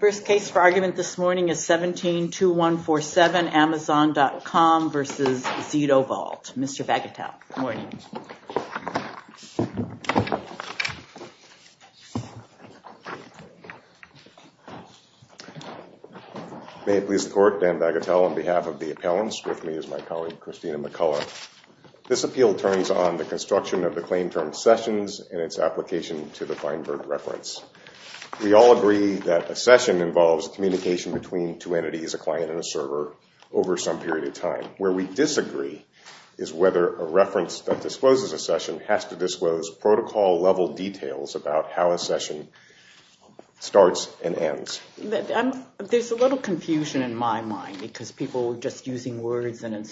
First case for argument this morning is 17-2147, Amazon.com v. Zitovault. Mr. Bagatelle, good morning. May it please the Court, Dan Bagatelle on behalf of the appellants, with me is my term sessions and its application to the Feinberg reference. We all agree that a session involves communication between two entities, a client and a server, over some period of time. Where we disagree is whether a reference that discloses a session has to disclose protocol-level details about how a session starts and ends. There's a little confusion in my mind because people were just using words and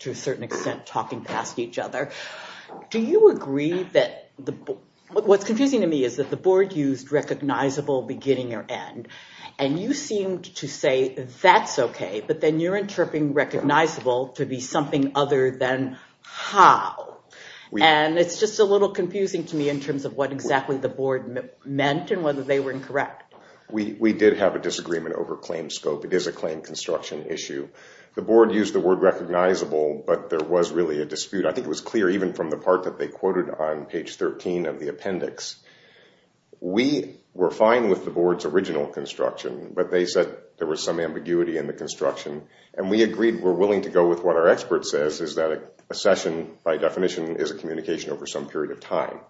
to a certain extent talking past each other. What's confusing to me is that the Board used recognizable beginning or end, and you seemed to say that's okay, but then you're interpreting recognizable to be something other than how. It's just a little confusing to me in terms of what exactly the Board meant and whether they were incorrect. We did have a disagreement over claim scope. It is a claim construction issue. The Board used the word recognizable, but there was really a dispute. I think it was clear even from the part that they quoted on page 13 of the appendix. We were fine with the Board's original construction, but they said there was some ambiguity in the construction. We agreed we're willing to go with what our expert says is that a session, by definition, is a communication over some period of time,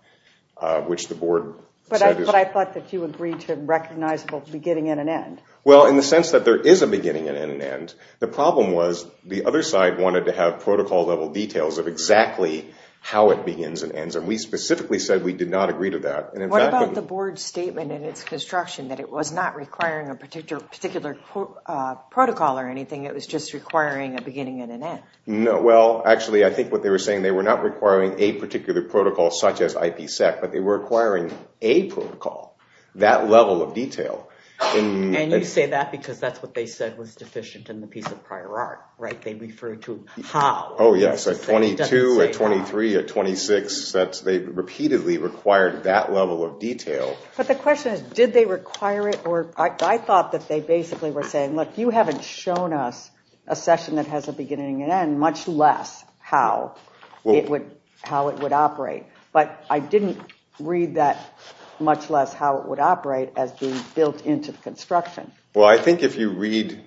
which the Board said is... But I thought that you agreed to recognizable beginning and an end. Well, in the sense that there is a beginning and an end, the problem was the other side wanted to have protocol level details of exactly how it begins and ends, and we specifically said we did not agree to that. What about the Board's statement in its construction that it was not requiring a particular protocol or anything? It was just requiring a beginning and an end. No. Well, actually, I think what they were saying, they were not requiring a particular protocol such as IPSEC, but they were requiring a protocol. That level of detail. And you say that because that's what they said was deficient in the piece of prior art, right? They refer to how. Oh, yes. At 22, at 23, at 26, they repeatedly required that level of detail. But the question is, did they require it? I thought that they basically were saying, look, you haven't shown us a session that has a beginning and an end, much less how it would operate. But I didn't read that much less how it would operate as being built into the construction. Well, I think if you read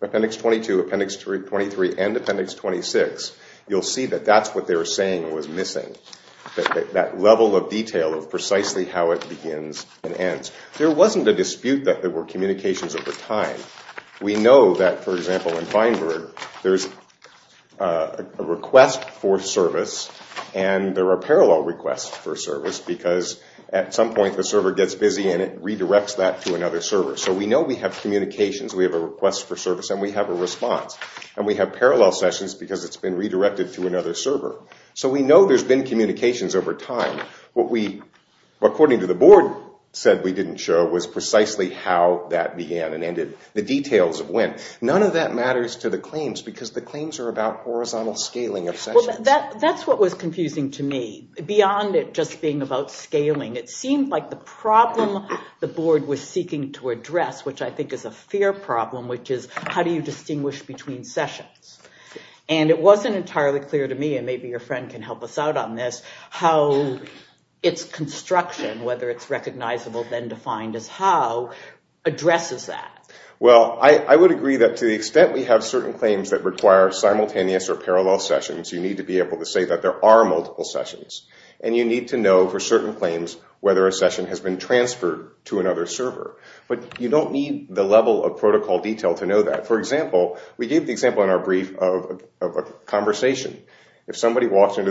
Appendix 22, Appendix 23, and Appendix 26, you'll see that that's what they were saying was missing, that level of detail of precisely how it begins and ends. There wasn't a dispute that there were communications over time. We know that, for example, in Feinberg, there's a request for service, and there are parallel requests for service, because at some point, the server gets busy, and it redirects that to another server. So we know we have communications. We have a request for service, and we have a response. And we have parallel sessions because it's been redirected to another server. So we know there's been communications over time. What we, according to the board, said we didn't show was precisely how that began and ended, the details of when. None of that matters to the claims, because the claims are about horizontal scaling of sessions. That's what was confusing to me. Beyond it just being about scaling, it seemed like the problem the board was seeking to address, which I think is a fair problem, which is how do you distinguish between sessions? And it wasn't entirely clear to me, and maybe your friend can help us out on this, how its construction, whether it's recognizable then defined as how, addresses that. Well, I would agree that to the extent we have certain claims that require simultaneous or parallel sessions, you need to be able to say that there are multiple sessions. And you need to know for certain claims whether a session has been transferred to another server. But you don't need the level of protocol detail to know that. For example, we gave the example in our brief of a conversation. They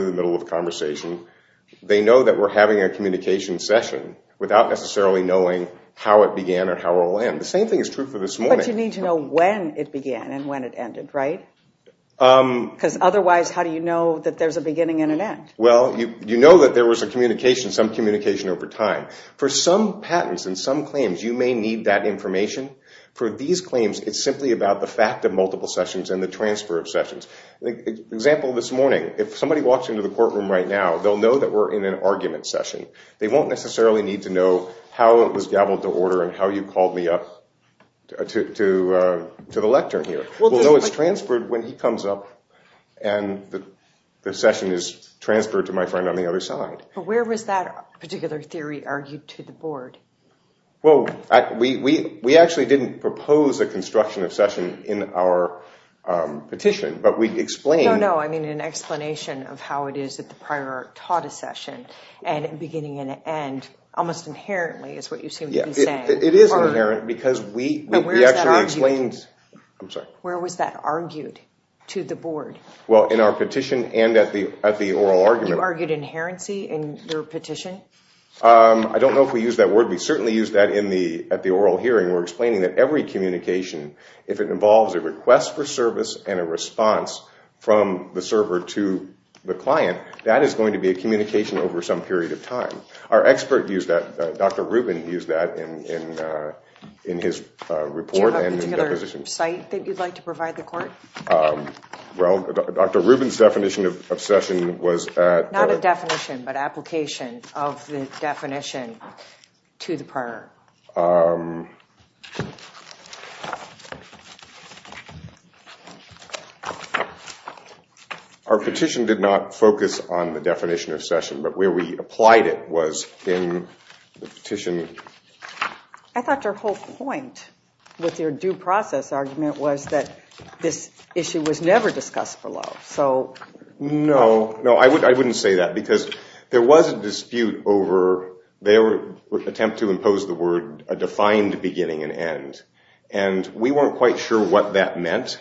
know that we're having a communication session without necessarily knowing how it began or how it will end. The same thing is true for this morning. But you need to know when it began and when it ended, right? Because otherwise, how do you know that there's a beginning and an end? Well, you know that there was a communication, some communication over time. For some patents and some claims, you may need that information. For these claims, it's simply about the fact of multiple sessions and the transfer of sessions. An example this morning, if somebody walks into the courtroom right now, they'll know that we're in an argument session. They won't necessarily need to know how it was gaveled to order and how you called me up to the lectern here. We'll know it's transferred when he comes up and the session is transferred to my friend on the other side. But where was that particular theory argued to the board? Well, we actually didn't propose a construction of session in our petition. But we explained— Where was that argued to the board? Well, in our petition and at the oral argument. You argued inherency in your petition? I don't know if we used that word. We certainly used that at the oral hearing. We're explaining that every communication, if it involves a request for service and a response from the server to the client, that is going to be a communication over some period of time. Our expert used that. Dr. Rubin used that in his report. Do you have a particular site that you'd like to provide the court? Well, Dr. Rubin's definition of session was at— Not a definition, but application of the definition to the prior. Our petition did not focus on the definition of session, but where we applied it was in the petition. I thought your whole point with your due process argument was that this issue was never discussed below. No. No, I wouldn't say that because there was a dispute over their attempt to impose the word a defined beginning and end. And we weren't quite sure what that meant,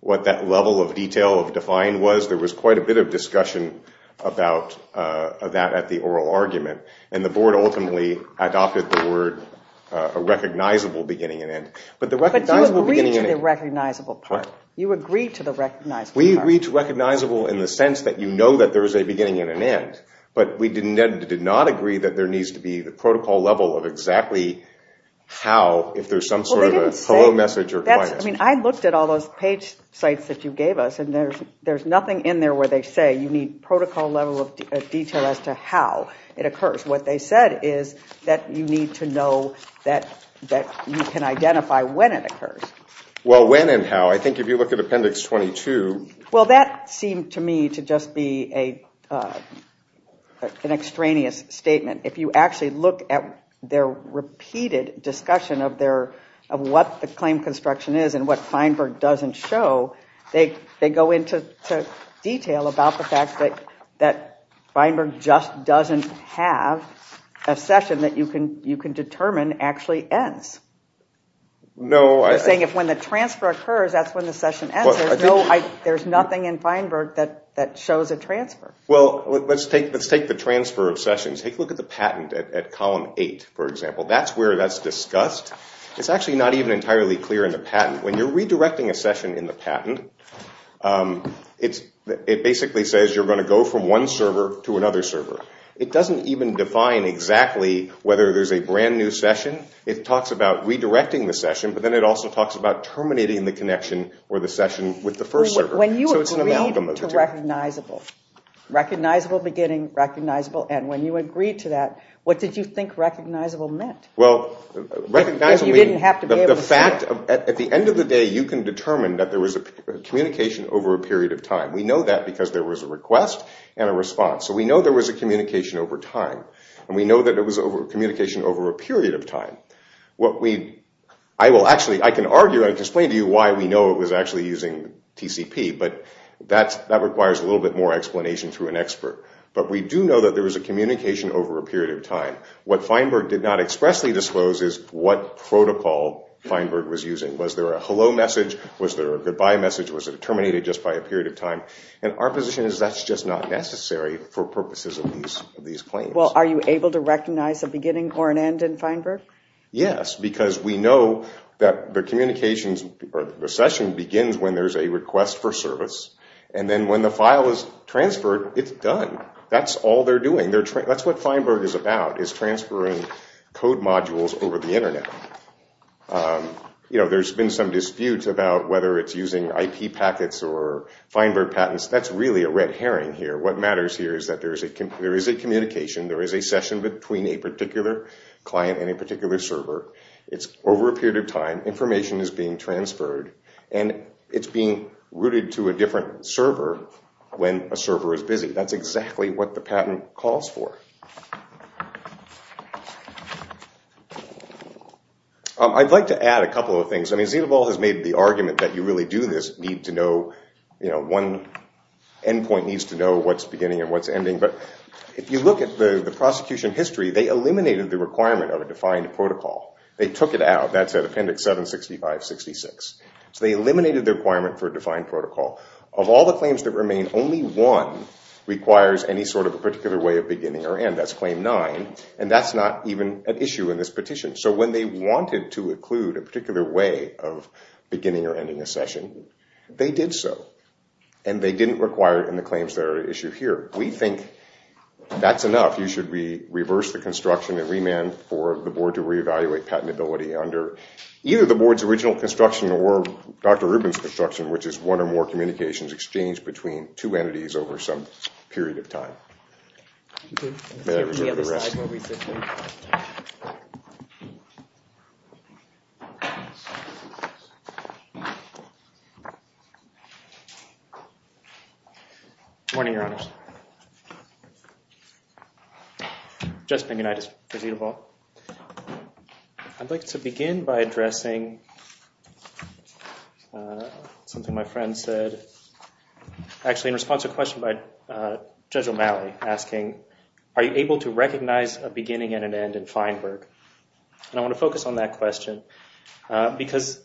what that level of detail of defined was. There was quite a bit of discussion about that at the oral argument. And the board ultimately adopted the word a recognizable beginning and end. But the recognizable beginning and end— But you agreed to the recognizable part. You agreed to the recognizable part. We agreed to recognizable in the sense that you know that there is a beginning and an end. But we did not agree that there needs to be the protocol level of exactly how, if there's some sort of a hello message or— I looked at all those page sites that you gave us and there's nothing in there where they say you need protocol level of detail as to how it occurs. What they said is that you need to know that you can identify when it occurs. Well, when and how. I think if you look at Appendix 22— Well, that seemed to me to just be an extraneous statement. If you actually look at their repeated discussion of what the claim construction is and what Feinberg doesn't show, they go into detail about the fact that Feinberg just doesn't have a session that you can determine actually ends. They're saying if when the transfer occurs, that's when the session ends. There's nothing in Feinberg that shows a transfer. Well, let's take the transfer of sessions. Take a look at the patent at Column 8, for example. That's where that's discussed. It's actually not even entirely clear in the patent. When you're redirecting a session in the patent, it basically says you're going to go from one server to another server. It doesn't even define exactly whether there's a brand new session. It talks about redirecting the session, but then it also talks about terminating the connection or the session with the first server. When you agreed to recognizable, recognizable beginning, recognizable end, when you agreed to that, what did you think recognizable meant? Well, recognizable meant the fact that at the end of the day, you can determine that there was a communication over a period of time. We know that because there was a request and a response. So we know there was a communication over time, and we know that it was a communication over a period of time. I can argue and explain to you why we know it was actually using TCP, but that requires a little bit more explanation through an expert. But we do know that there was a communication over a period of time. What Feinberg did not expressly disclose is what protocol Feinberg was using. Was there a hello message? Was there a goodbye message? Was it terminated just by a period of time? And our position is that's just not necessary for purposes of these claims. Well, are you able to recognize a beginning or an end in Feinberg? Yes, because we know that the communication or the session begins when there's a request for service, and then when the file is transferred, it's done. That's all they're doing. That's what Feinberg is about, is transferring code modules over the internet. There's been some disputes about whether it's using IP packets or Feinberg patents. That's really a red herring here. What matters here is that there is a communication. There is a session between a particular client and a particular server. It's over a period of time. Information is being transferred, and it's being routed to a different server when a server is busy. That's exactly what the patent calls for. I'd like to add a couple of things. I mean, Zita Ball has made the argument that you really do this. One endpoint needs to know what's beginning and what's ending. But if you look at the prosecution history, they eliminated the requirement of a defined protocol. They took it out. That's at Appendix 76566. So they eliminated the requirement for a defined protocol. Of all the claims that remain, only one requires any sort of a particular way of beginning or end. That's Claim 9. And that's not even an issue in this petition. So when they wanted to include a particular way of beginning or ending a session, they did so. And they didn't require it in the claims that are at issue here. We think that's enough. You should reverse the construction and remand for the board to reevaluate patentability under either the board's original construction or Dr. Rubin's construction, which is one or more communications exchanged between two entities over some period of time. May I reserve the rest? Good morning, Your Honors. Justin Ignatius for Zita Ball. I'd like to begin by addressing something my friend said. Actually, in response to a question by Judge O'Malley asking, are you able to recognize a beginning and an end in Feinberg? And I want to focus on that question because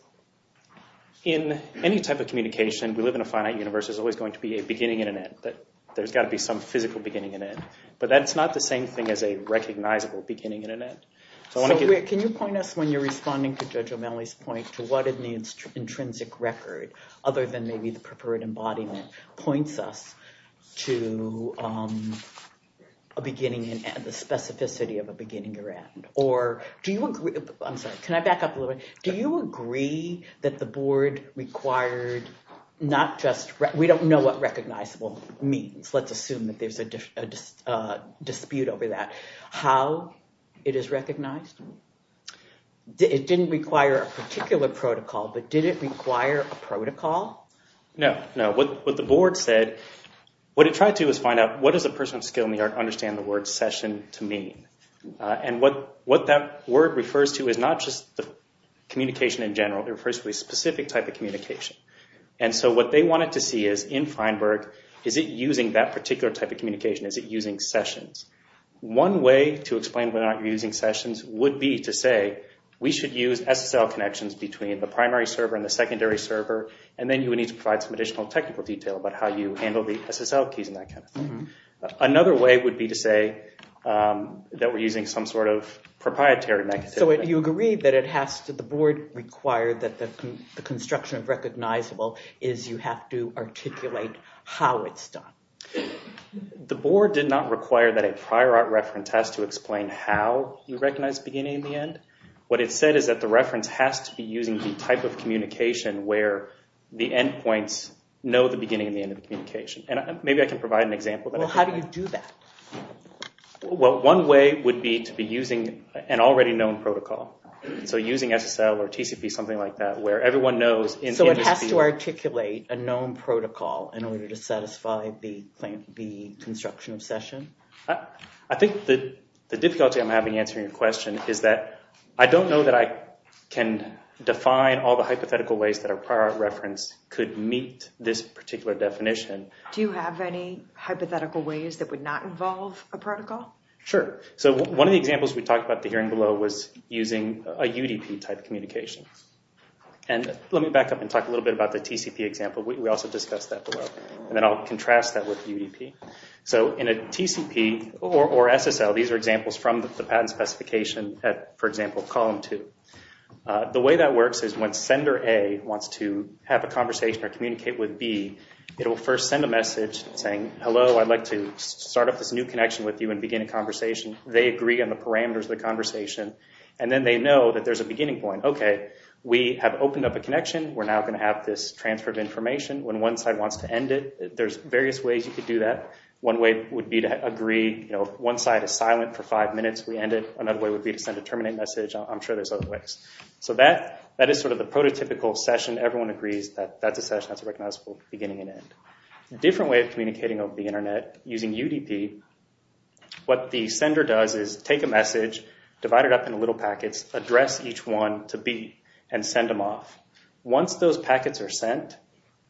in any type of communication, we live in a finite universe, there's always going to be a beginning and an end. There's got to be some physical beginning and end. But that's not the same thing as a recognizable beginning and an end. Can you point us, when you're responding to Judge O'Malley's point, to what in the intrinsic record, other than maybe the preferred embodiment, points us to a beginning and the specificity of a beginning or end? Or do you agree, I'm sorry, can I back up a little bit? Do you agree that the board required not just, we don't know what recognizable means, let's assume that there's a dispute over that, how it is recognized? It didn't require a particular protocol, but did it require a protocol? No, no. What the board said, what it tried to do was find out, what does a person of skill in the art understand the word session to mean? And what that word refers to is not just the communication in general, it refers to a specific type of communication. And so what they wanted to see is, in Feinberg, is it using that particular type of communication? Is it using sessions? One way to explain whether or not you're using sessions would be to say, we should use SSL connections between the primary server and the secondary server, and then you would need to provide some additional technical detail about how you handle the SSL keys and that kind of thing. Another way would be to say that we're using some sort of proprietary mechanism. So you agree that it has to, the board required that the construction of recognizable is you have to articulate how it's done? The board did not require that a prior art reference has to explain how you recognize beginning and the end. What it said is that the reference has to be using the type of communication where the endpoints know the beginning and the end of the communication. And maybe I can provide an example. Well, how do you do that? Well, one way would be to be using an already known protocol. So using SSL or TCP, something like that, where everyone knows... So it has to articulate a known protocol in order to satisfy the construction of session? I think that the difficulty I'm having answering your question is that I don't know that I can define all the hypothetical ways that a prior art reference could meet this particular definition. Do you have any hypothetical ways that would not involve a protocol? Sure. So one of the examples we talked about at the hearing below was using a UDP type communication. And let me back up and talk a little bit about the TCP example. We also discussed that below. And then I'll contrast that with UDP. So in a TCP or SSL, these are examples from the patent specification at, for example, column two. The way that works is when sender A wants to have a conversation or communicate with B, it will first send a message saying, hello, I'd like to start up this new connection with you and begin a conversation. They agree on the parameters of the conversation. And then they know that there's a beginning point. Okay, we have opened up a connection. We're now going to have this transfer of information. When one side wants to end it, there's various ways you could do that. One way would be to agree, you know, if one side is silent for five minutes, we end it. Another way would be to send a terminate message. I'm sure there's other ways. So that is sort of the prototypical session. Everyone agrees that that's a session. That's a recognizable beginning and end. A different way of communicating over the internet using UDP, what the sender does is take a message, divide it up into little packets, address each one to B, and once those packets are sent,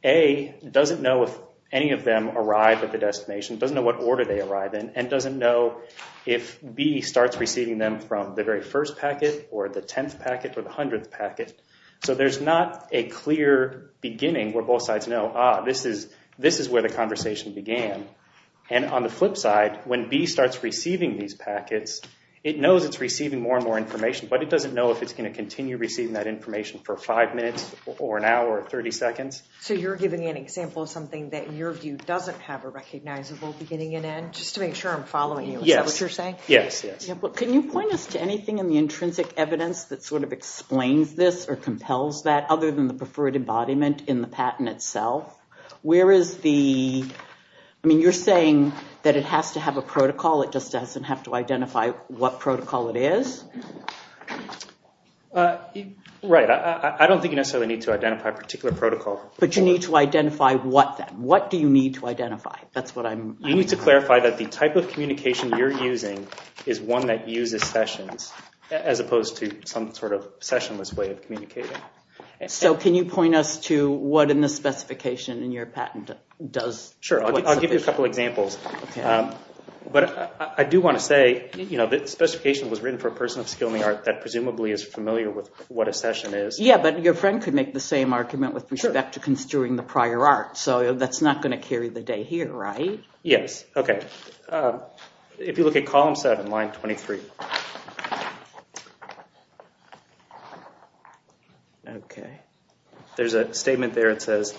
A doesn't know if any of them arrive at the destination, doesn't know what order they arrive in, and doesn't know if B starts receiving them from the very first packet or the 10th packet or the 100th packet. So there's not a clear beginning where both sides know, ah, this is where the conversation began. And on the flip side, when B starts receiving these packets, it knows it's receiving more and more information, but it doesn't know if it's going to continue receiving that information for five minutes or an hour or 30 seconds. So you're giving an example of something that your view doesn't have a recognizable beginning and end, just to make sure I'm following you. Is that what you're saying? Yes, yes. Can you point us to anything in the intrinsic evidence that sort of explains this or compels that, other than the preferred embodiment in the patent itself? Where is the, I mean, you're saying that it has to have a protocol, it just doesn't have to identify what protocol it is? Right. I don't think you necessarily need to identify a particular protocol. But you need to identify what, then? What do you need to identify? That's what I'm... You need to clarify that the type of communication you're using is one that uses sessions, as opposed to some sort of sessionless way of communicating. So can you point us to what in the specification in your patent does... The specification was written for a person of skill in the art that presumably is familiar with what a session is. Yeah, but your friend could make the same argument with respect to construing the prior art. So that's not going to carry the day here, right? Yes. Okay. If you look at column seven, line 23. Okay. There's a statement there that says,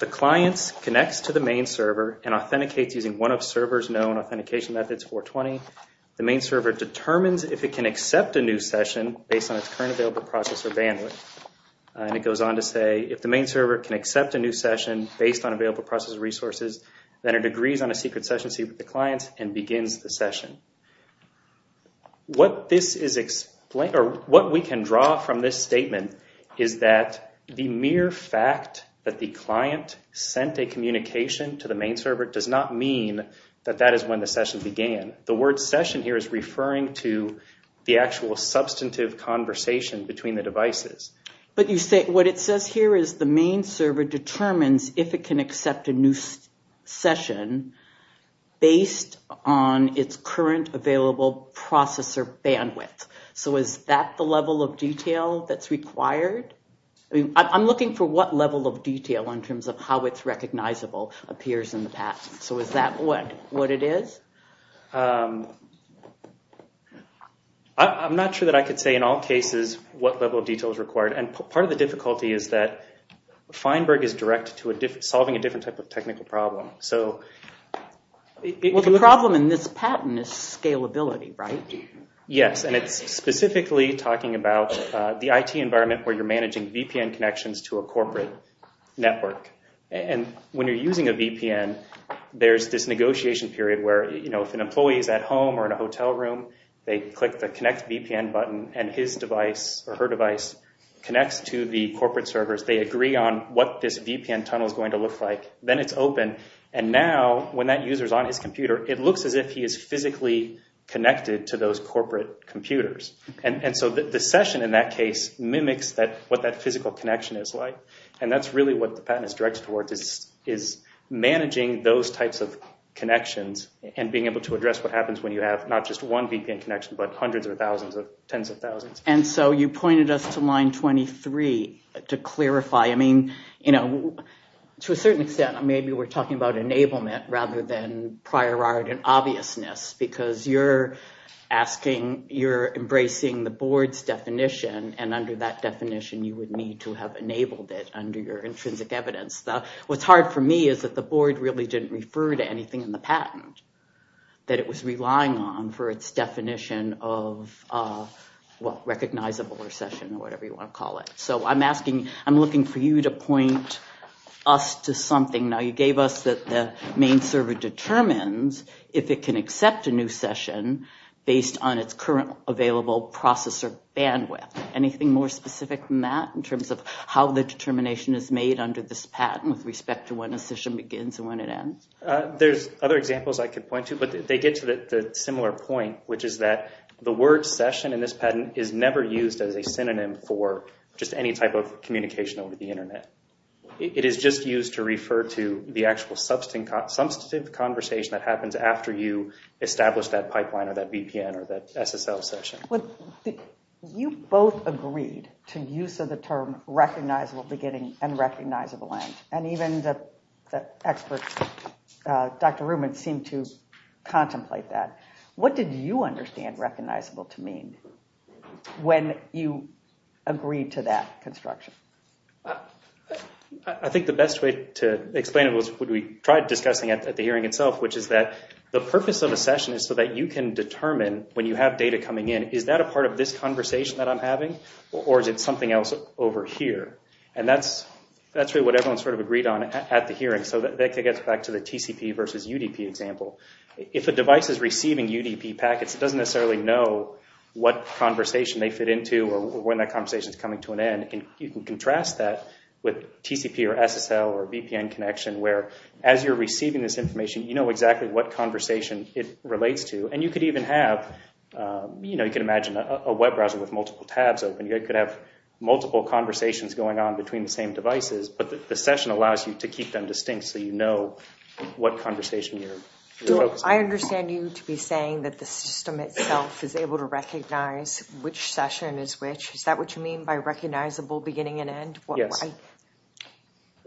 the client connects to the main server and authenticates using one of server's known authentication methods 420. The main server determines if it can accept a new session based on its current available process or bandwidth. And it goes on to say, if the main server can accept a new session based on available process resources, then it agrees on a secret session seat with the clients and begins the session. What this is explain... Or what we can draw from this statement is that the mere fact that the client sent a communication to the main server does not mean that that is when the session began. The word session here is referring to the actual substantive conversation between the devices. But you say what it says here is the main server determines if it can accept a new session based on its current available processor bandwidth. So is that the level of detail that's in terms of how it's recognizable appears in the patent? So is that what it is? I'm not sure that I could say in all cases what level of detail is required. And part of the difficulty is that Feinberg is direct to solving a different type of technical problem. So... Well, the problem in this patent is scalability, right? Yes. And it's specifically talking about the IT environment where you're managing VPN connections to a corporate network. And when you're using a VPN, there's this negotiation period where, you know, if an employee is at home or in a hotel room, they click the connect VPN button and his device or her device connects to the corporate servers. They agree on what this VPN tunnel is going to look like. Then it's open. And now when that user is on his computer, it looks as if he is physically connected to those corporate computers. And so the session in that case mimics what that physical connection is like. And that's really what the patent is directed towards, is managing those types of connections and being able to address what happens when you have not just one VPN connection, but hundreds of thousands of tens of thousands. And so you pointed us to line 23 to clarify. I mean, you know, to a certain extent, maybe we're talking about enablement rather than prior art and obviousness, because you're asking, you're embracing the board's definition and under that definition, you would need to have enabled it under your intrinsic evidence. What's hard for me is that the board really didn't refer to anything in the patent that it was relying on for its definition of what recognizable or session or whatever you want to call it. So I'm asking, I'm looking for you to point us to something. Now, you gave us that the main server determines if it can accept a new session based on its current available processor bandwidth. Anything more specific than that in terms of how the determination is made under this patent with respect to when a session begins and when it ends? There's other examples I could point to, but they get to the similar point, which is that the word session in this patent is never used as a synonym for just any type of communication over the internet. It is just used to refer to the actual substantive conversation that happens after you establish that pipeline or that VPN or that SSL session. You both agreed to use of the term recognizable beginning and recognizable end, and even the experts, Dr. Reumann, seemed to contemplate that. What did you understand recognizable to mean when you agreed to that construction? I think the best way to explain it was what we tried discussing at the hearing itself, which is the purpose of a session is so that you can determine when you have data coming in, is that a part of this conversation that I'm having, or is it something else over here? That's really what everyone sort of agreed on at the hearing. That gets back to the TCP versus UDP example. If a device is receiving UDP packets, it doesn't necessarily know what conversation they fit into or when that conversation is coming to an end. You can contrast that with TCP or SSL or VPN connection, where as you're receiving this information, you know exactly what conversation it relates to. You can imagine a web browser with multiple tabs open. You could have multiple conversations going on between the same devices, but the session allows you to keep them distinct so you know what conversation you're focusing on. I understand you to be saying that the system itself is able to recognize which session is which. Is that what you mean by recognizable beginning and end? Yes.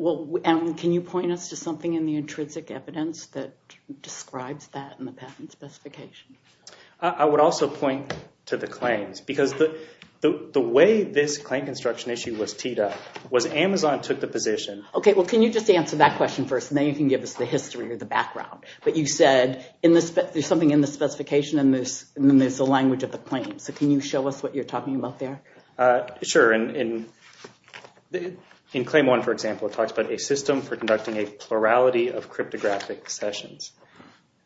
Can you point us to something in the intrinsic evidence that describes that in the patent specification? I would also point to the claims. The way this claim construction issue was teed up was Amazon took the position... Can you just answer that question first, and then you can give us the history or the background. You said there's something in the specification, and then there's the language of the claim. Can you show us what you're talking about there? Sure. In claim one, for example, it talks about a system for conducting a plurality of cryptographic sessions.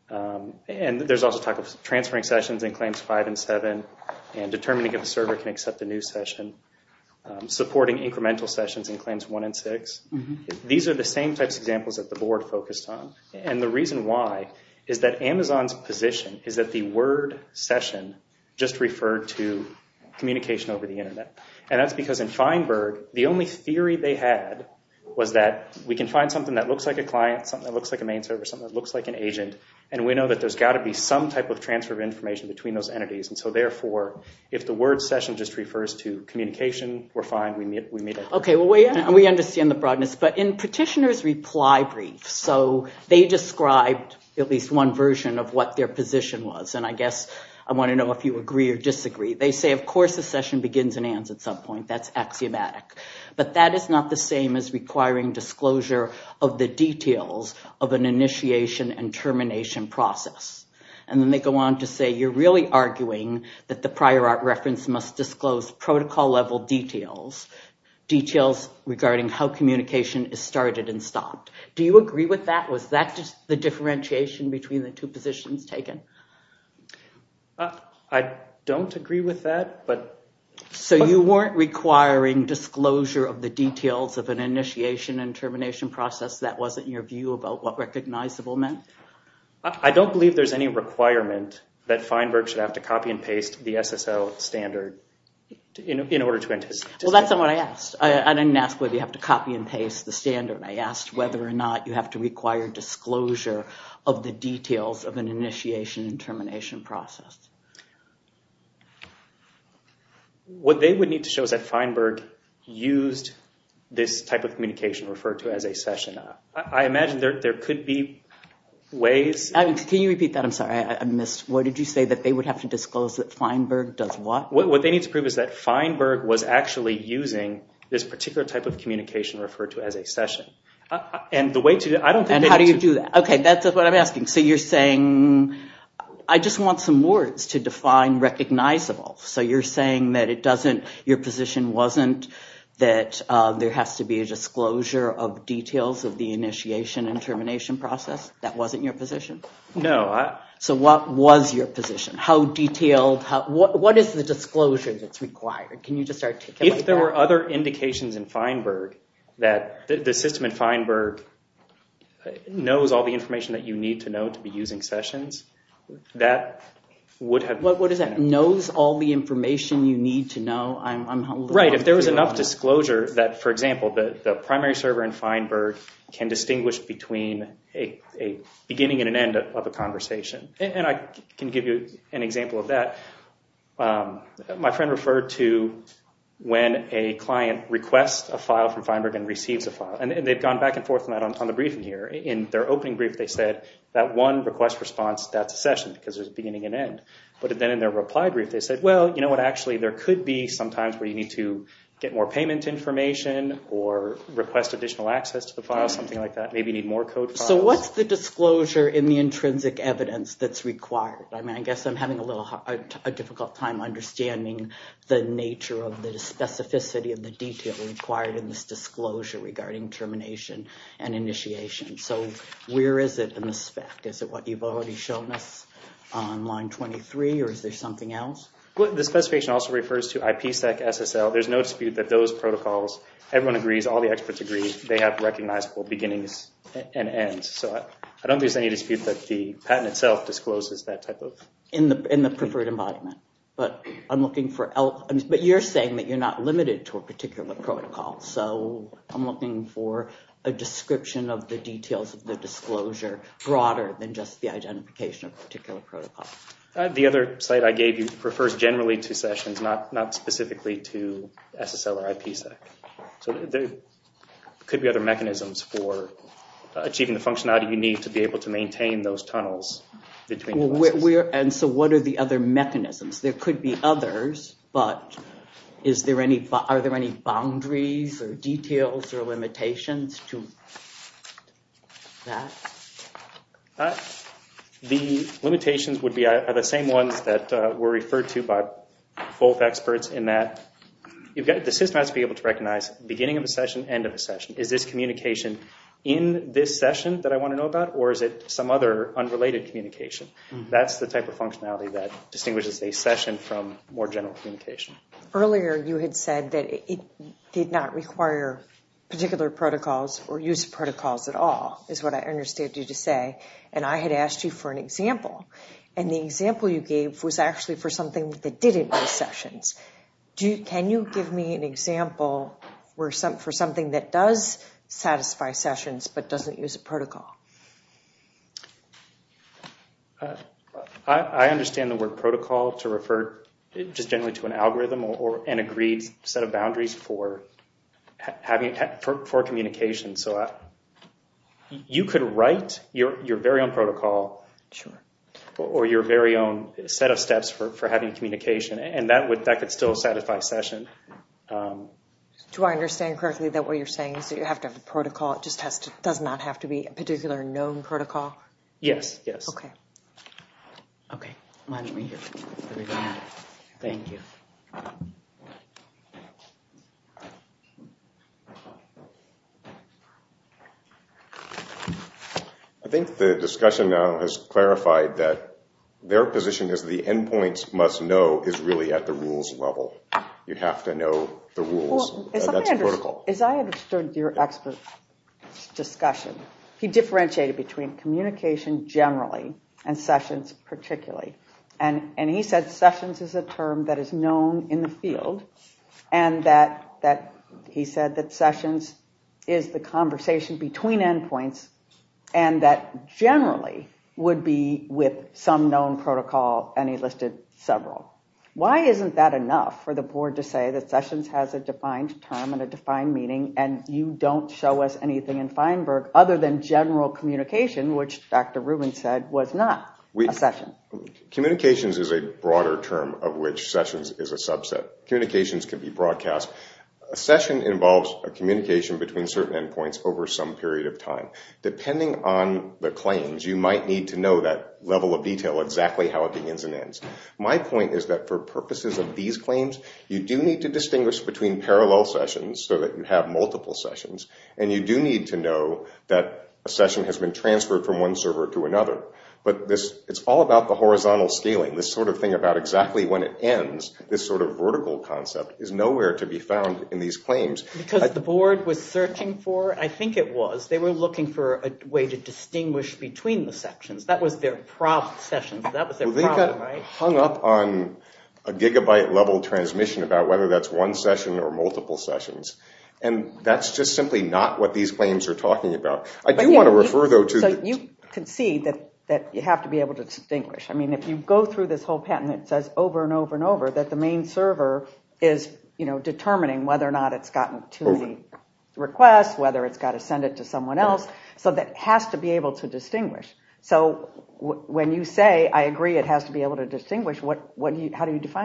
There's also talk of transferring sessions in claims five and seven and determining if the server can accept a new session, supporting incremental sessions in claims one and six. These are the same types of examples that the board focused on. The reason why is that Amazon's position is that the word session just referred to communication over the internet. That's because in Feinberg, the only theory they had was that we can find something that looks like a client, something that looks like a main server, something that looks like an agent, and we know that there's got to be some type of transfer of information between those entities. Therefore, if the word session just refers to communication, we're fine. We understand the broadness, but in petitioners' reply briefs, they described at least one version of what their position was. I guess I want to know if you agree or disagree. They say, of course, a session begins and ends at some point. That's axiomatic. But that is not the same as requiring disclosure of the details of an initiation and termination process. Then they go on to say, you're really arguing that the prior art reference must disclose protocol-level details, details regarding how communication is started and stopped. Do you agree with that? Was that just the differentiation between the two positions taken? I don't agree with that, but... So you weren't requiring disclosure of the details of an initiation and termination process? That wasn't your view about what recognizable meant? I don't believe there's any requirement that Feinberg should have to copy and paste the SSL standard in order to... Well, that's not what I asked. I didn't ask whether you have to copy and paste the standard. I asked whether or not you have to require disclosure of the details of an initiation and termination process. What they would need to show is that Feinberg used this type of communication referred to as a session. I imagine there could be ways... Can you repeat that? I'm sorry, I missed. What did you say? That they would have to disclose that Feinberg does what? What they need to prove is that Feinberg was actually using this particular type of communication referred to as a session. And how do you do that? Okay, that's what I'm asking. So you're saying... I just want some words to define recognizable. So you're saying that your position wasn't that there has to be a disclosure of details of the initiation and termination process? That wasn't your position? No. So what was your position? How detailed? What is the disclosure that's required? Can you just articulate that? If there were other indications in Feinberg that the system in Feinberg knows all the information that you need to know to be using sessions, that would have... What is that? Knows all the information you need to know? Right. If there was enough disclosure that, for example, the primary server in Feinberg can distinguish between a beginning and an end of a conversation. And I can give you an example of a file. And they've gone back and forth on that on the briefing here. In their opening brief, they said that one request response, that's a session because there's a beginning and end. But then in their reply brief, they said, well, you know what? Actually, there could be sometimes where you need to get more payment information or request additional access to the file, something like that. Maybe you need more code files. So what's the disclosure in the intrinsic evidence that's required? I mean, I guess I'm having a difficult time understanding the nature of the specificity of the detail required in this disclosure regarding termination and initiation. So where is it in the spec? Is it what you've already shown us on line 23, or is there something else? The specification also refers to IPSEC, SSL. There's no dispute that those protocols, everyone agrees, all the experts agree, they have recognizable beginnings and ends. So I don't think there's any dispute that the patent itself discloses that type of... In the preferred embodiment. But I'm looking for... But you're saying that you're not limited to a particular protocol. So I'm looking for a description of the details of the disclosure broader than just the identification of a particular protocol. The other slide I gave you refers generally to sessions, not specifically to SSL or IPSEC. So there could be other mechanisms for achieving the functionality you need to be able to maintain those tunnels between devices. And so what are the other mechanisms? There could be others, but are there any boundaries or details or limitations to that? The limitations would be the same ones that were referred to by both experts in that the system has to be able to recognize beginning of a session, end of a session. Is this communication in this session that I want to know about, or is it some other unrelated communication? That's the type of functionality that distinguishes a session from more general communication. Earlier you had said that it did not require particular protocols or use protocols at all, is what I understood you to say. And I had asked you for an example. And the example you gave was actually for something that didn't need sessions. Can you give me an example for something that does satisfy sessions but doesn't use a protocol? I understand the word protocol to refer just generally to an algorithm or an agreed set of boundaries for communication. So you could write your very own protocol or your very own set of steps for having communication, and that could still satisfy session. Do I understand correctly that what you're saying is that you have to have a protocol, it just does not have to be a particular known protocol? Yes. Yes. Okay. Okay. Thank you. I think the discussion now has clarified that their position is the endpoints must know is really at the rules level. You have to know the rules. As I understood your expert discussion, he differentiated between communication generally and sessions particularly. And he said sessions is a term that is known in the field, and that he said that sessions is the conversation between endpoints and that generally would be with some known protocol, and he listed several. Why isn't that enough for the board to say that sessions has a defined term and a defined meaning, and you don't show us anything in Feinberg other than general communication, which Dr. Rubin said was not a session? Communications is a broader term of which sessions is a subset. Communications can be broadcast. A session involves a communication between certain endpoints over some period of time. Depending on the claims, you might need to know that level of detail exactly how it begins and ends. You do need to distinguish between parallel sessions so that you have multiple sessions, and you do need to know that a session has been transferred from one server to another. But it's all about the horizontal scaling. This sort of thing about exactly when it ends, this sort of vertical concept, is nowhere to be found in these claims. Because the board was searching for, I think it was, they were looking for a way to distinguish between the sections. That was their prob sessions. That was their problem, right? Hung up on a gigabyte level transmission about whether that's one session or multiple sessions. And that's just simply not what these claims are talking about. I do want to refer though to... So you can see that you have to be able to distinguish. I mean, if you go through this whole patent, it says over and over and over that the main server is determining whether or not it's gotten to the request, whether it's got to send it to someone else. So that has to be able to distinguish. How do you define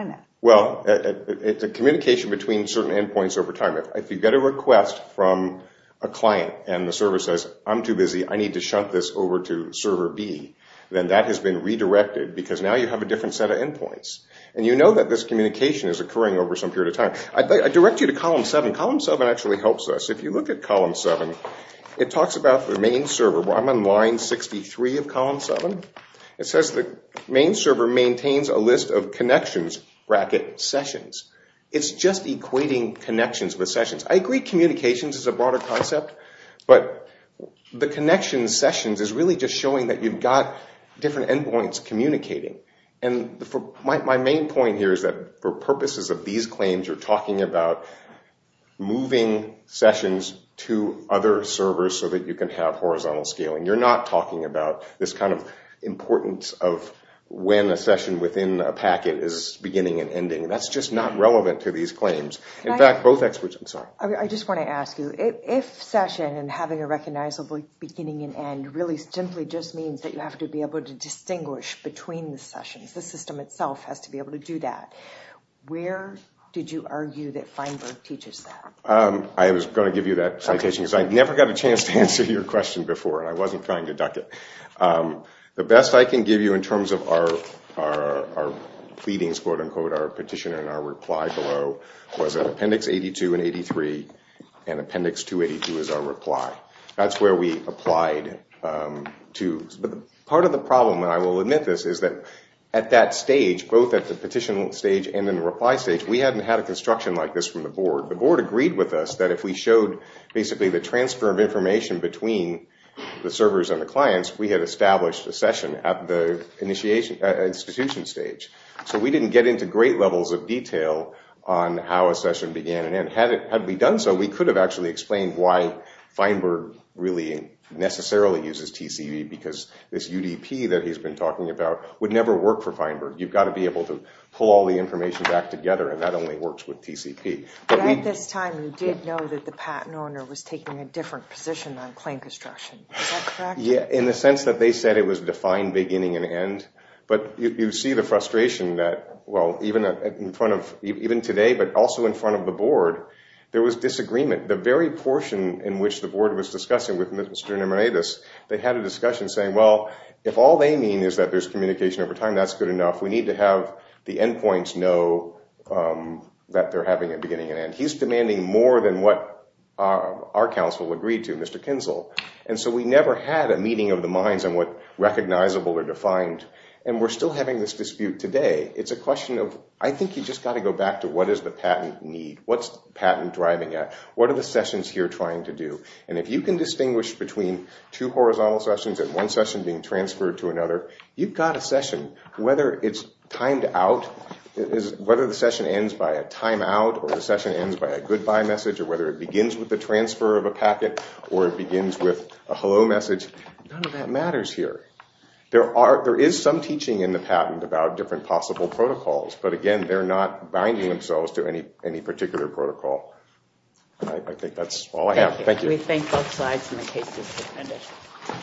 that? Well, it's a communication between certain endpoints over time. If you get a request from a client and the server says, I'm too busy, I need to shunt this over to server B, then that has been redirected because now you have a different set of endpoints. And you know that this communication is occurring over some period of time. I direct you to column 7. Column 7 actually helps us. If you look at column 7, it talks about the main server. I'm on line 63 of column 7. It says the main server maintains a list of connections, bracket, sessions. It's just equating connections with sessions. I agree communications is a broader concept, but the connection sessions is really just showing that you've got different endpoints communicating. My main point here is that for purposes of these claims, you're talking about moving sessions to other servers so that you can have horizontal scaling. You're not talking about this kind of importance of when a session within a packet is beginning and ending. That's just not relevant to these claims. I just want to ask you, if session and having a recognizable beginning and end really simply just means that you have to be able to distinguish between the sessions, the system itself has to be able to do that, where did you argue that Feinberg teaches that? I was going to give you that citation because I never got a chance to answer your question before, and I wasn't trying to duck it. The best I can give you in terms of our pleadings, our petition and our reply below was in appendix 82 and 83, and appendix 282 is our reply. That's where we applied to. But part of the problem, and I will admit this, is that at that stage, both at the petition stage and in the reply stage, we hadn't had a construction like this from the board. The board agreed with us that if we showed basically the transfer of information between the servers and the clients, we had established a session at the institution stage. So we didn't get into great levels of detail on how a session began and ended. Had we done so, we could have actually explained why Feinberg really necessarily uses TCP because this UDP that he's been talking about would never work for Feinberg. You've got to be able to pull all the information back together, and that only works with TCP. But at this time, you did know that the patent owner was taking a different position on claim construction. Is that correct? Yeah, in the sense that they said it was defined beginning and end. But you see the frustration that, well, even in front of, even today, but also in front of the board, there was disagreement. The very portion in which the board was discussing with Mr. Nemiridis, they had a discussion saying, well, if all they mean is that there's communication over time, that's good enough. We need to have the endpoints know that they're having a beginning and end. He's demanding more than what our counsel agreed to, Mr. Kinzel. And so we never had a meeting of the minds on what recognizable or defined. And we're still having this dispute today. It's a question of, I think you just got to go back to what is the patent need? What's patent driving at? What are the sessions here trying to do? And if you can distinguish between two horizontal sessions and one session being transferred to another, you've got a session. Whether it's timed out, whether the session ends by a time out, or the session ends by a goodbye message, or whether it begins with the transfer of a packet, or it begins with a hello message, none of that matters here. There is some teaching in the patent about different possible protocols. But again, they're not binding themselves to any particular protocol. And I think that's all I have. Thank you. Thank you. We thank both sides in the case.